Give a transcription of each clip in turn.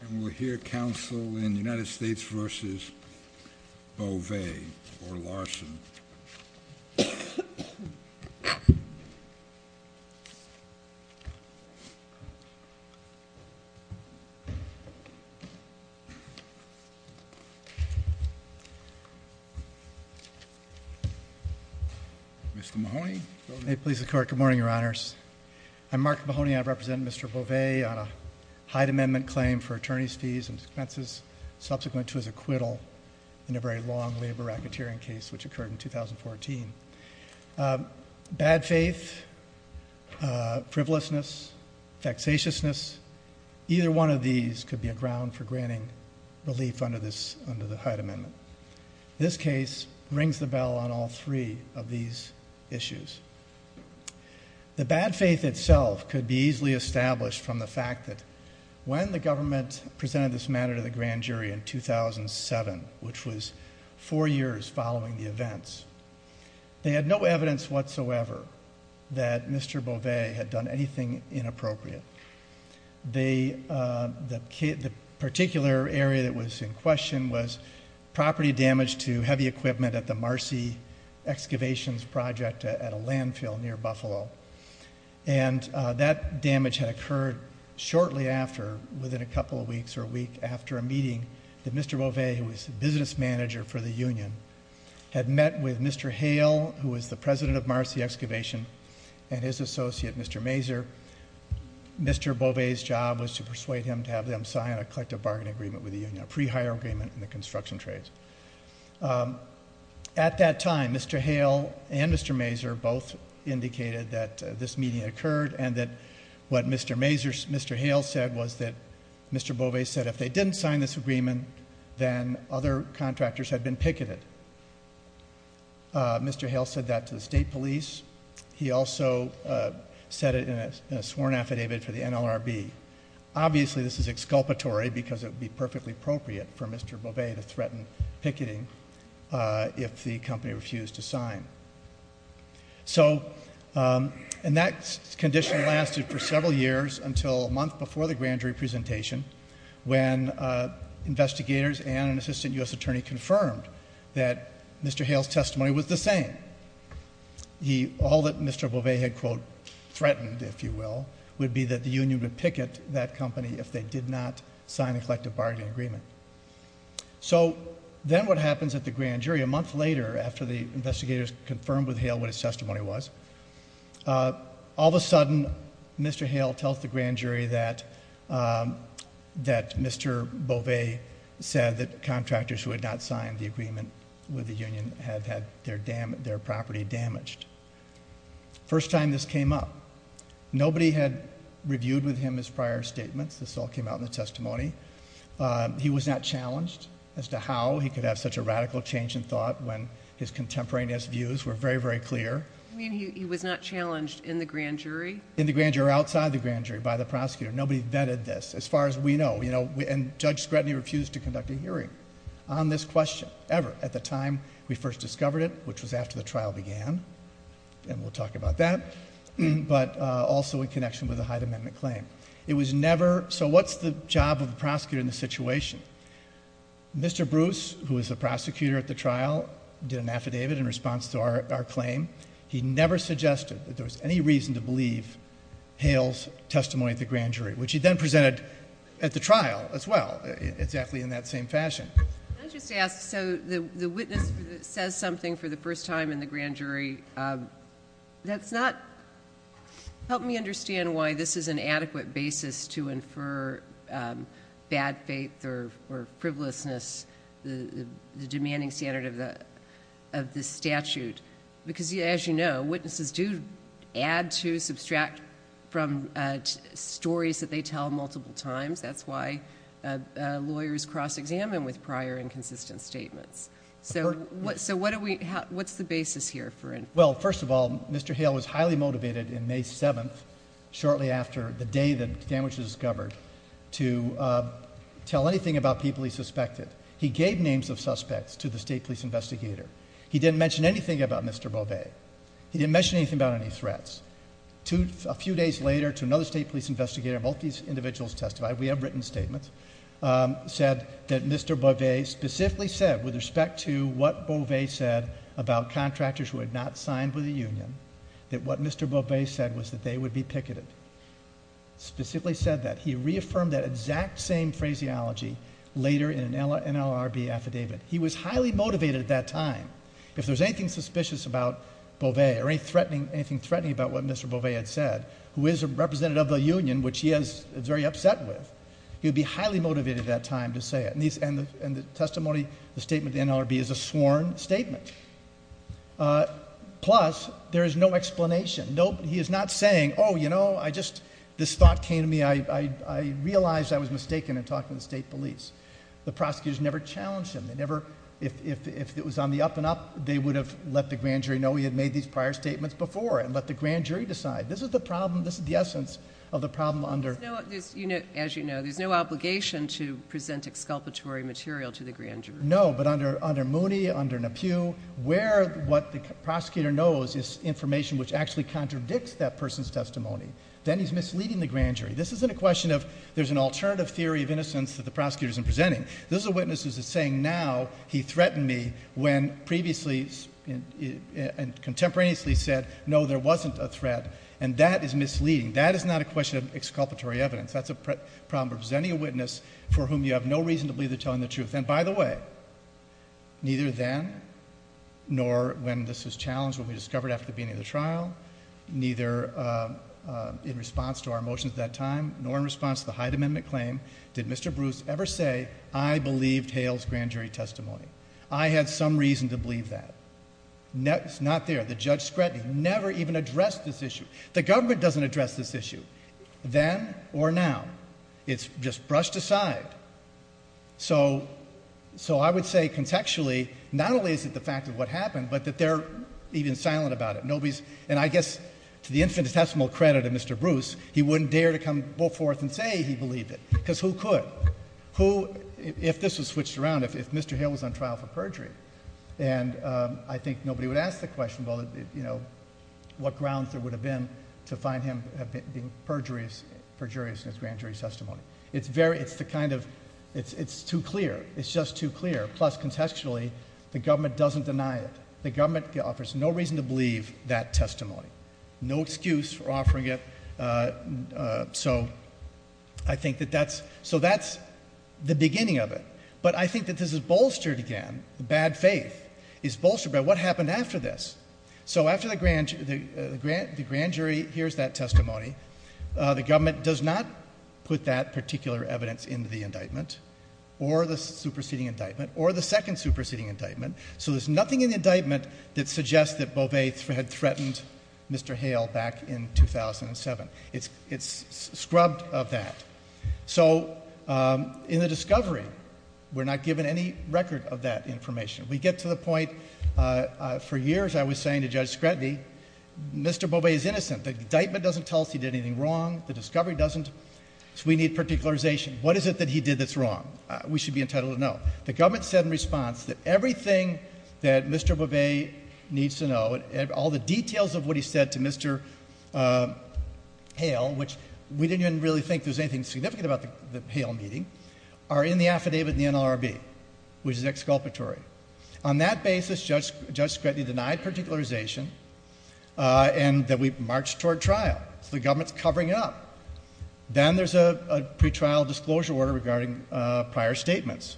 And we'll hear counsel in the United States v. Beauvais or Larson. Mr. Mahoney. May it please the court. Good morning, your honors. I'm Mark Mahoney. I am here today to discuss the case of the high amendment claim for attorneys fees and expenses subsequent to his acquittal in a very long labor racketeering case which occurred in 2014. Bad faith, frivolousness, facetiousness, either one of these could be a ground for granting relief under the Hyde Amendment. This case rings the bell on all three of these issues. The bad faith itself could be easily established from the fact that when the government presented this matter to the grand jury in 2007, which was four years following the events, they had no evidence whatsoever that Mr. Beauvais had done anything inappropriate. The particular area that was in question was property damage to heavy equipment at the Marcy Excavations Project at a landfill near Buffalo. And that damage had occurred shortly after, within a couple of weeks or a week after a meeting that Mr. Beauvais, who was the business manager for the union, had met with Mr. Hale, who was the president of Marcy Excavation, and his associate, Mr. Mazur. Mr. Beauvais' job was to persuade him to have them sign a collective bargain agreement with the union, a pre-hire agreement in the construction trades. At that time, Mr. Hale and Mr. Mazur both indicated that this meeting had occurred and that what Mr. Hale said was that Mr. Beauvais said if they didn't sign this agreement, then other contractors had been picketed. Mr. Hale said that to the state police. He also said it in a sworn affidavit for the NLRB. Obviously, this is exculpatory because it would be perfectly appropriate for Mr. Beauvais to threaten picketing if the company refused to sign. So that condition lasted for several years until a month before the grand jury presentation when investigators and an assistant U.S. attorney confirmed that Mr. Hale's testimony was the same. All that Mr. Beauvais had, quote, threatened, if you will, would be that the union would So then what happens at the grand jury, a month later after the investigators confirmed with Hale what his testimony was, all of a sudden Mr. Hale tells the grand jury that Mr. Beauvais said that contractors who had not signed the agreement with the union had had their property damaged. First time this came up, nobody had reviewed with him his was not challenged as to how he could have such a radical change in thought when his contemporaneous views were very, very clear. You mean he was not challenged in the grand jury? In the grand jury or outside the grand jury by the prosecutor. Nobody vetted this, as far as we know. And Judge Scrutiny refused to conduct a hearing on this question ever at the time we first discovered it, which was after the trial began, and we'll talk about that, but also in connection with the Hyde Amendment claim. It was never, so what's the job of the prosecutor in this situation? Mr. Bruce, who was the prosecutor at the trial, did an affidavit in response to our claim. He never suggested that there was any reason to believe Hale's testimony at the grand jury, which he then presented at the trial as well, exactly in that same fashion. Can I just ask, so the witness says something for the first time in the grand jury, that's not, help me understand why this is an adequate basis to infer bad faith or frivolousness, the demanding standard of the statute, because as you know, witnesses do add to, subtract from stories that they tell multiple times. That's why lawyers cross-examine with prior inconsistent statements. So what's the basis here for inferring? Well, first of all, Mr. Hale was highly motivated in May 7th, shortly after the day the damage was discovered, to tell anything about people he suspected. He gave names of suspects to the state police investigator. He didn't mention anything about Mr. Beauvais. He didn't mention anything about any threats. A few days later, to another state police investigator, both these individuals testified, we have written statements, said that Mr. Beauvais specifically said with respect to what Beauvais said about contractors who had not signed with the union, that what Mr. Beauvais said was that they would be picketed. Specifically said that. He reaffirmed that exact same phraseology later in an NLRB affidavit. He was highly motivated at that time. If there was anything suspicious about Beauvais or anything threatening about what Mr. Beauvais had said, who is a representative of the union, which he is very sure the statement of the NLRB is a sworn statement. Plus, there is no explanation. He is not saying, oh, you know, I just, this thought came to me, I realized I was mistaken in talking to the state police. The prosecutors never challenged him. They never, if it was on the up and up, they would have let the grand jury know he had made these prior statements before and let the grand jury decide. This is the problem, this is the essence of the problem under- There's no, as you know, there's no obligation to present exculpatory material to the grand jury. No, but under Mooney, under Nepew, where what the prosecutor knows is information which actually contradicts that person's testimony. Then he's misleading the grand jury. This isn't a question of, there's an alternative theory of innocence that the prosecutor isn't presenting. This is a witness who's saying now he threatened me when previously and contemporaneously said no, there wasn't a threat, and that is misleading. That is not a question of exculpatory evidence. That's a problem of presenting a witness for whom you have no reason to believe they're telling the truth. And by the way, neither then, nor when this was challenged when we discovered after the beginning of the trial, neither in response to our motions at that time, nor in response to the Hyde Amendment claim, did Mr. Bruce ever say I believed Hale's grand jury testimony. I had some reason to believe that. It's not there. The judge Scretton never even addressed this issue. The government doesn't address this side. So I would say, contextually, not only is it the fact of what happened, but that they're even silent about it. Nobody's, and I guess to the infinitesimal credit of Mr. Bruce, he wouldn't dare to come forth and say he believed it, because who could? Who, if this was switched around, if Mr. Hale was on trial for perjury? And I think nobody would ask the question, well, you know, what grounds there would have been to find him being perjurious in his grand jury testimony? It's very, it's the kind of, it's too clear. It's just too clear. Plus, contextually, the government doesn't deny it. The government offers no reason to believe that testimony. No excuse for offering it. So I think that that's, so that's the beginning of it. But I think that this is bolstered again, the bad faith is bolstered by what happened after this. So after the grand jury hears that testimony, the government does not put that particular evidence into the indictment, or the superseding indictment, or the second superseding indictment. So there's nothing in the indictment that suggests that Beauvais had threatened Mr. Hale back in 2007. It's scrubbed of that. So in the discovery, we're not given any record of that information. We get to the point, for years I was saying to Judge Scredny, Mr. Beauvais is innocent. The indictment doesn't tell us he did anything wrong. The discovery doesn't. So we need particularization. What is it that he did that's wrong? We should be entitled to know. The government said in response that everything that Mr. Beauvais needs to know, all the details of what he said to Mr. Hale, which we didn't even really think there was anything significant about the Hale meeting, are in the affidavit in the NLRB, which is exculpatory. On that basis, Judge Scredny denied particularization, and then we marched toward trial. So the government's covering it up. Then there's a pretrial disclosure order regarding prior statements.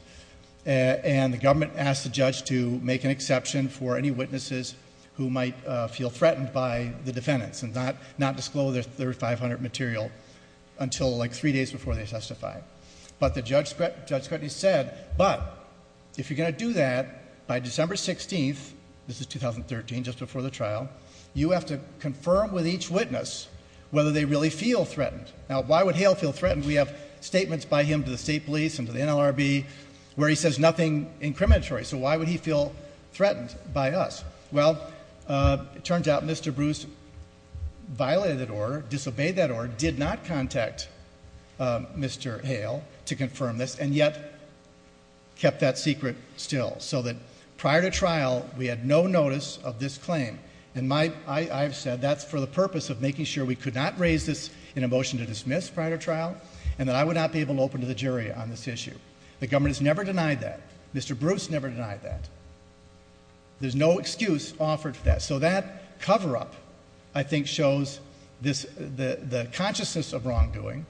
And the government asked the judge to make an exception for any witnesses who might feel threatened by the defendants, and not disclose their 500 material until like three days before they testify. But Judge Scredny said, but if you're going to do that by December 16th, this is 2013, just before the trial, you have to confirm with each witness whether they really feel threatened. Now why would Hale feel threatened? We have statements by him to the state police and to the NLRB where he says nothing incriminatory. So why would he feel threatened by us? Well, it turns out Mr. Bruce violated that order, disobeyed that Mr. Hale to confirm this, and yet kept that secret still. So that prior to trial, we had no notice of this claim. And I've said that's for the purpose of making sure we could not raise this in a motion to dismiss prior to trial, and that I would not be able to open to the jury on this issue. The government has never denied that. Mr. Bruce never denied that. There's no excuse offered for that. So that cover-up, I think, shows the consciousness of wrongdoing,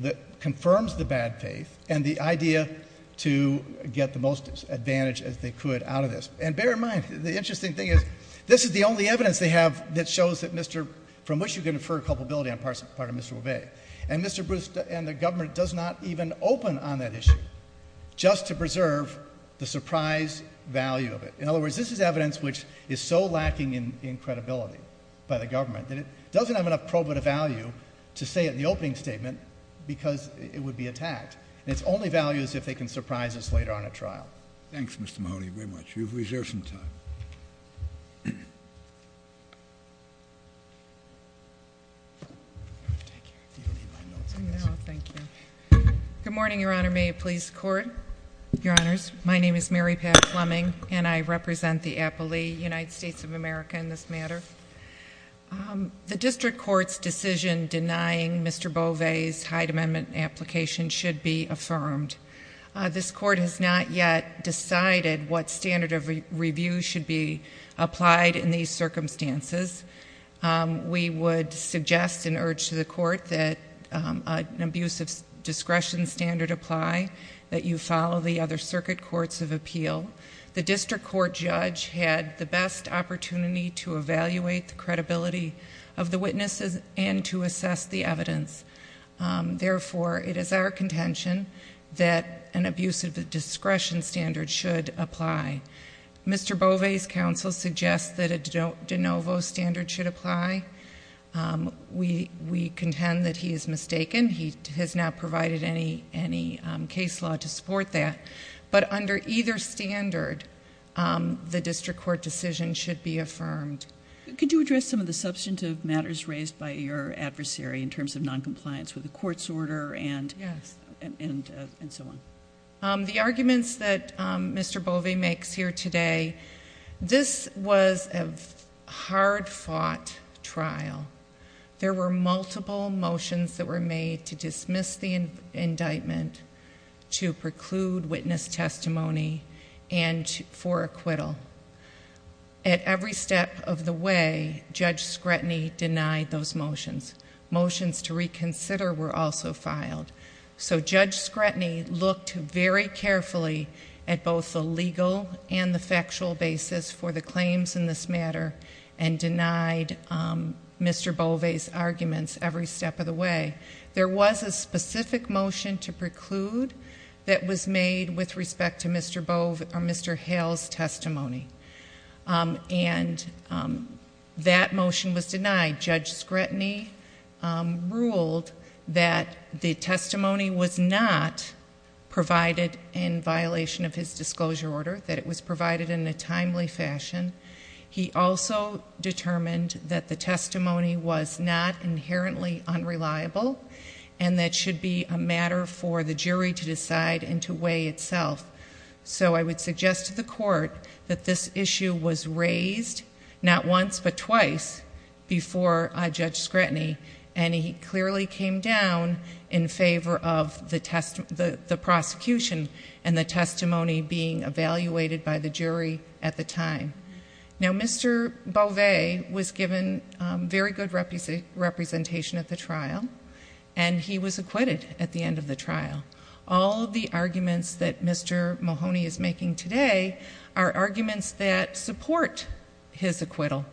that confirms the bad faith, and the idea to get the most advantage as they could out of this. And bear in mind, the interesting thing is, this is the only evidence they have that shows that Mr., from which you can infer culpability on part of Mr. Obey. And Mr. Bruce and the government does not even open on that issue, just to preserve the surprise value of it. In other words, this is evidence which is so lacking in credibility by the government, that it doesn't have enough probative value to say in the opening statement, because it would be attacked. And it's only value is if they can surprise us later on at trial. Thanks, Mr. Mahoney, very much. You've reserved some time. Good morning, Your Honor. May it please the Court? Your Honors, my name is Mary Pat Fleming, and I represent the appellee, United States of America, in this matter. The District Court's decision denying Mr. Bovey's Hyde Amendment application should be affirmed. This Court has not yet decided what standard of review should be applied in these circumstances. We would suggest an urge to the Court that an abuse of discretion standard apply, that you follow the other circuit courts of appeal. The District Court judge had the best opportunity to evaluate the credibility of the witnesses and to assess the evidence. Therefore, it is our contention that an abuse of discretion standard should apply. Mr. Bovey's counsel suggests that a de novo standard should apply. We contend that he is mistaken. He has not used case law to support that. But under either standard, the District Court decision should be affirmed. Could you address some of the substantive matters raised by your adversary in terms of noncompliance with the Court's order and so on? The arguments that Mr. Bovey makes here today, this was a hard-fought trial. There were multiple motions that were made to dismiss the indictment, to preclude witness testimony, and for acquittal. At every step of the way, Judge Scretany denied those motions. Motions to reconsider were also filed. So Judge Scretany looked very carefully at both the legal and the factual basis for the claims in this matter and denied Mr. Bovey's arguments every step of the way. There was a specific motion to preclude that was made with respect to Mr. Hale's testimony. That motion was denied. Judge Scretany ruled that the testimony was not provided in violation of his disclosure order, that it was provided in a timely fashion. He also determined that the testimony was not inherently unreliable and that it should be a matter for the jury to decide and to weigh itself. So I would suggest to the Court that this issue was raised not once but twice before Judge Scretany, and he clearly came down in favor of the prosecution and the testimony being evaluated by the jury at the time. Now, Mr. Bovey was given very good representation at the trial, and he was acquitted at the end of the trial. All of the arguments that Mr. Mahoney is making today are arguments that support his acquittal.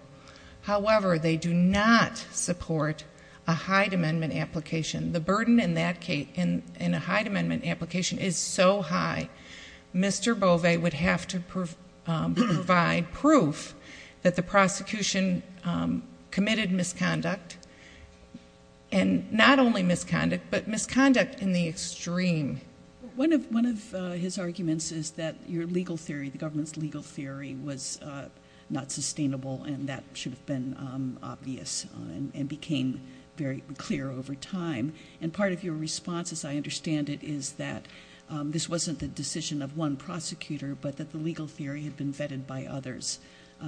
However, they do not support a Hyde Amendment application. The burden in a Hyde Amendment application is so high, Mr. Bovey would have to provide proof that the prosecution committed misconduct, and not only misconduct, but misconduct in the extreme. One of his arguments is that your legal theory, the government's legal theory, was not sustainable and that should have been obvious and became very clear over time. And part of your response, as I understand it, is that this wasn't the decision of one prosecutor, but that the legal theory had been vetted by others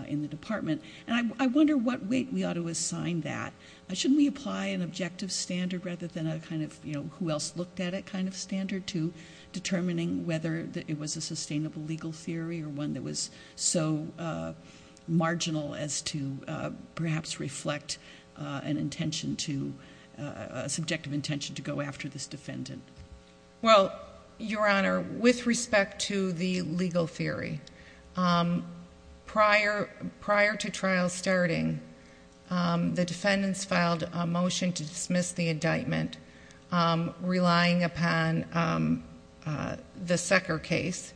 in the Department. And I wonder what weight we ought to assign that. Shouldn't we apply an objective standard rather than a kind of, you know, who else looked at it kind of standard to determining whether it was a sustainable legal theory or one that was so marginal as to perhaps reflect an intention to, a subjective intention to go after this defendant? Well, Your Honor, with respect to the legal theory, prior to trial starting, the defendants filed a motion to dismiss the indictment, relying upon the Secker case,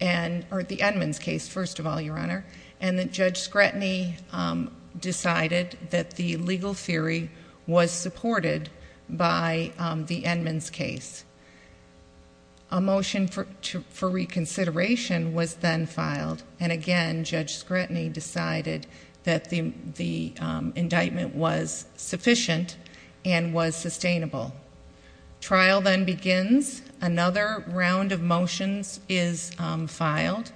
or the Edmonds case, first of all, Your Honor, and that Judge Scretany decided that the legal theory was supported by the Edmonds case. A motion for reconsideration was then filed, and again, Judge Scretany decided that the indictment was sufficient and was sustainable. Trial then begins. Another round of motions is filed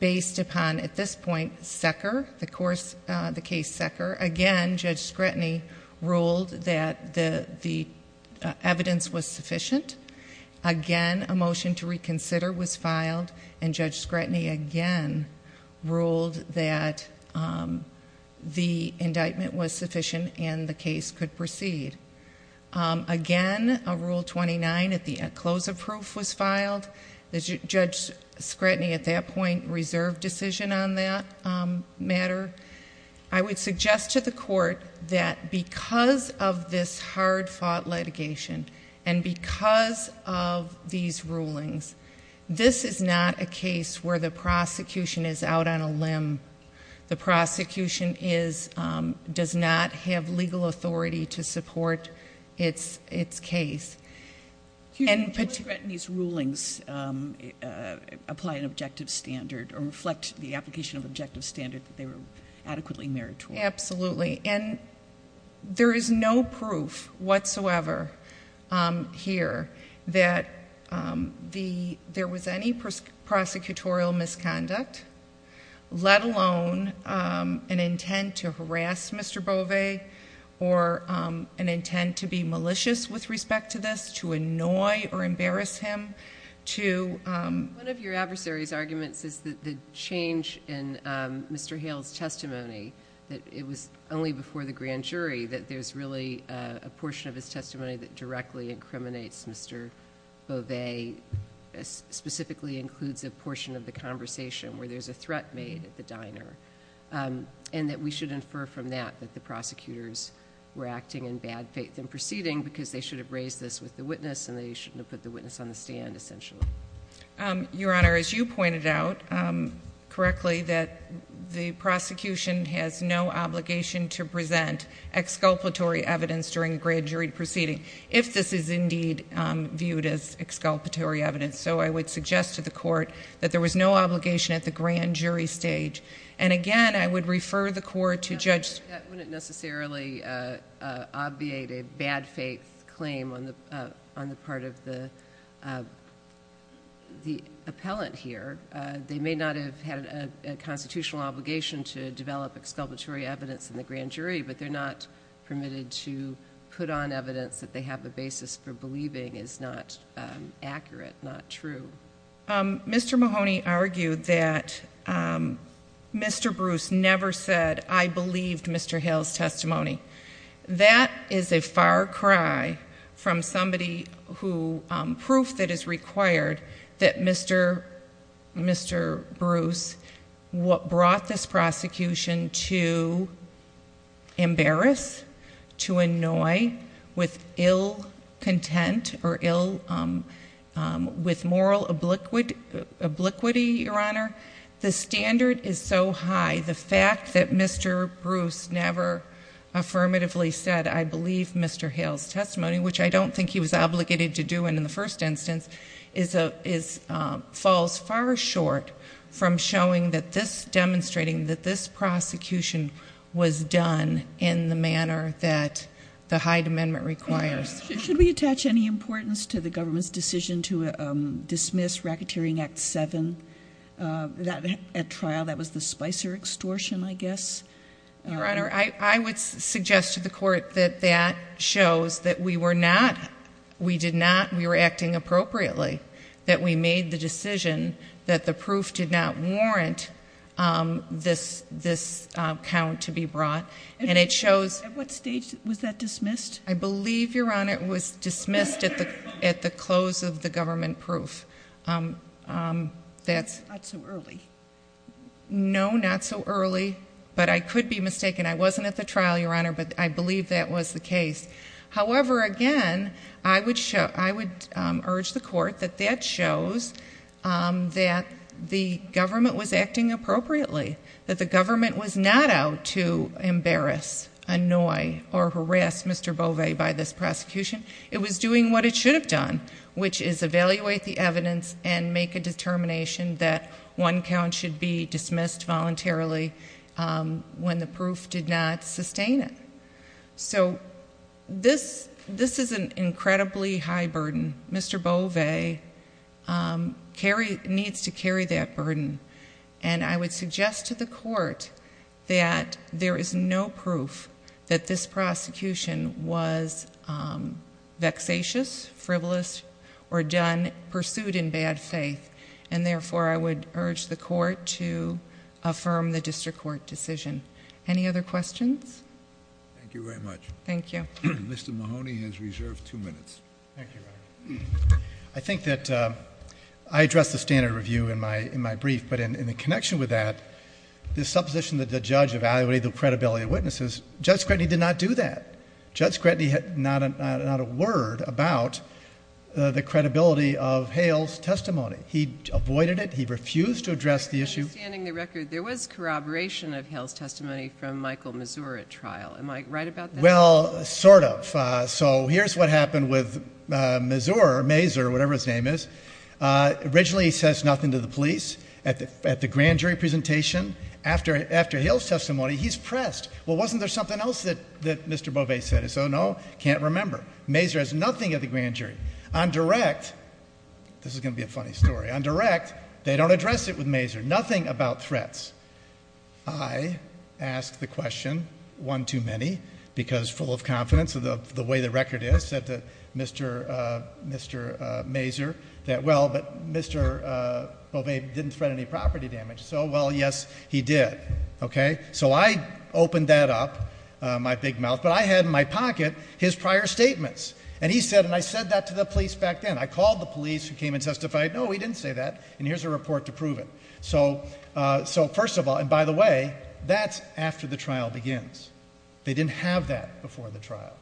based upon, at this point, Secker, the case Secker. Again, Judge Scretany ruled that the evidence was sufficient. Again, a motion to reconsider was filed, and Judge Scretany again ruled that the indictment was sufficient and the case could proceed. Again, Rule 29 at the close of proof was filed. Judge Scretany, Your Honor, I would suggest to the court that because of this hard fought litigation, and because of these rulings, this is not a case where the prosecution is out on a limb. The prosecution does not have legal authority to support its case. Judge Scretany's rulings apply an objective standard, or reflect the application of objective standard that they were adequately meritorious. Absolutely. There is no proof whatsoever here that there was any prosecutorial misconduct, let alone an intent to harass Mr. Bove, or an intent to be malicious with respect to this, to annoy or embarrass him. One of your adversary's arguments is that the change in Mr. Hale's testimony, that it was only before the grand jury that there's really a portion of his testimony that directly incriminates Mr. Bove, specifically includes a portion of the conversation where there's a threat made at the diner, and that we should infer from that that the prosecutors were acting in bad faith in proceeding because they should have raised this with the witness and they shouldn't have put the witness on the stand, essentially. Your Honor, as you pointed out correctly, that the prosecution has no obligation to present exculpatory evidence during a grand jury proceeding, if this is indeed viewed as exculpatory evidence. So I would suggest to the court that there was no obligation at the grand jury stage. And again, I would refer the court to Judge... That wouldn't necessarily obviate a bad faith claim on the part of the appellant here. They may not have had a constitutional obligation to develop exculpatory evidence in the grand jury, but they're not permitted to put on evidence that they have a basis for believing is not accurate, not true. Mr. Mahoney argued that Mr. Bruce never said, I believed Mr. Hill's testimony. That is a far cry from somebody who... Proof that is required that Mr. Bruce brought this prosecution to embarrass, to annoy with ill content or ill... With moral obliquity, Your Honor. The standard is so high, the fact that Mr. Bruce never affirmatively said, I believe Mr. Hill's testimony, which I don't think he was obligated to do in the first instance, falls far short from showing that this... Demonstrating that this prosecution was done in the manner that the Hyde Amendment requires. Should we attach any importance to the government's decision to dismiss Racketeering Act 7 at trial? That was the Spicer extortion, I guess. Your Honor, I would suggest to the court that that shows that we were not... We did not... That we made the decision that the proof did not warrant this count to be brought. And it shows... At what stage was that dismissed? I believe, Your Honor, it was dismissed at the close of the government proof. Not so early. No, not so early. But I could be mistaken. I wasn't at the trial, Your Honor, but I believe that was the case. However, again, I would urge the court that that shows that the government was acting appropriately. That the government was not out to embarrass, annoy, or harass Mr. Beauvais by this prosecution. It was doing what it should have done, which is evaluate the evidence and make a determination that one count should be dismissed voluntarily when the proof did not sustain it. So this is an incredibly high burden. Mr. Beauvais needs to carry that burden. And I would suggest to the court that there is no proof that this prosecution was vexatious, frivolous, or done... Pursued in bad faith. And therefore, I would urge the court to affirm the district court decision. Any other questions? Thank you very much. Thank you. Mr. Mahoney has reserved two minutes. I think that I addressed the standard review in my brief, but in the connection with that, the supposition that the judge evaluated the credibility of witnesses, Judge Scranton did not do that. Judge Scranton had not a word about the credibility of Hale's testimony. He avoided it. He refused to address the issue. But understanding the record, there was corroboration of Hale's testimony from Michael Mazur at trial. Am I right about that? Well, sort of. So here's what happened with Mazur, or Mazur, or whatever his name is. Originally, he says nothing to the police at the grand jury presentation. After Hale's testimony, he's pressed. Well, wasn't there something else that Mr. Beauvais said? He said, no, can't remember. Mazur has nothing at the grand jury. On direct, this is going to be a funny story. On direct, they don't address it with Mazur. Nothing about threats. I asked the question, one too many, because full of confidence of the way the record is, said to Mr. Mazur that, well, but Mr. Beauvais didn't threaten any property damage. So, well, yes, he did. Okay? So I opened that up, my big mouth, but I had in my pocket his prior statements. And he said, and I said that to the police back then. I called the police who came and testified. No, he didn't say that. And here's a report to prove it. So first of all, and by the way, that's after the trial begins. They didn't have that before the trial.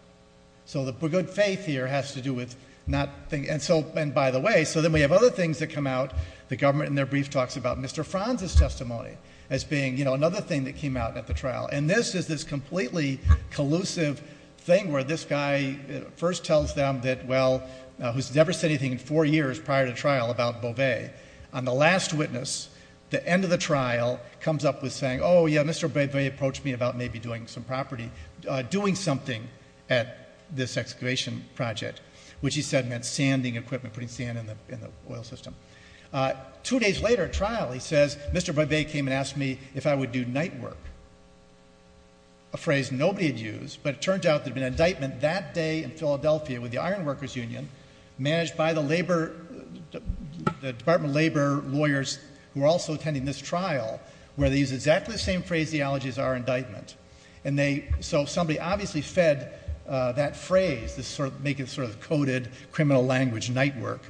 So the good faith here has to do with not thinking. And so, and by the way, so then we have other things that come out. The government in their brief talks about Mr. Franz's testimony as being another thing that came out at the trial. And this is this completely collusive thing where this guy first tells them that, well, who's never said anything in four years prior to trial about Beauvais. On the last witness, the end of the trial comes up with saying, oh, yeah, Mr. Beauvais approached me about maybe doing some property, doing something at this excavation project, which he said meant sanding equipment, putting sand in the oil system. Two days later at trial, he says, Mr. Beauvais came and asked me if I would do night work, a phrase nobody had used, but it turned out there'd been an attempt by the labor, the Department of Labor lawyers who were also attending this trial where they used exactly the same phraseology as our indictment. And they, so somebody obviously fed that phrase, this sort of, making sort of coded criminal language, night work,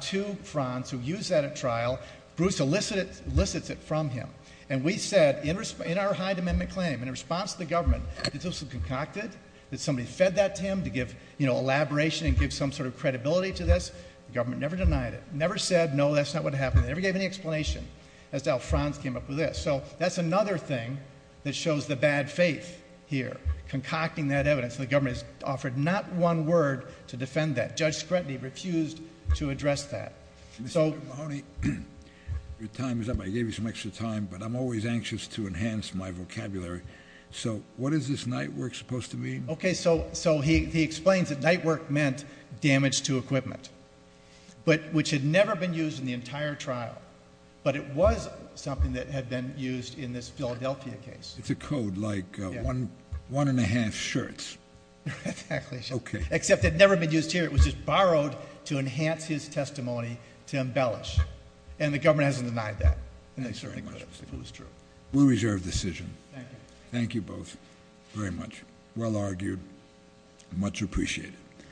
to Franz who used that at trial. Bruce elicits it from him. And we said in our Hyde Amendment claim, in response to the government, that this was concocted, that somebody fed that to him to give elaboration and give some sort of credibility to this. The government never denied it, never said, no, that's not what happened. They never gave any explanation as to how Franz came up with this. So that's another thing that shows the bad faith here, concocting that evidence. And the government has offered not one word to defend that. Judge Scranton, he refused to address that. Mr. Mahoney, your time is up. I gave you some extra time, but I'm always anxious to enhance my vocabulary. So what is this night work supposed to mean? Okay. So, so he, he explains that night work meant damage to equipment, but which had never been used in the entire trial, but it was something that had been used in this Philadelphia case. It's a code like a one, one and a half shirts. Exactly. Except it had never been used here. It was just borrowed to enhance his testimony to embellish. And the government hasn't denied that. We'll reserve decision. Thank you both very much. Well argued. Much appreciated.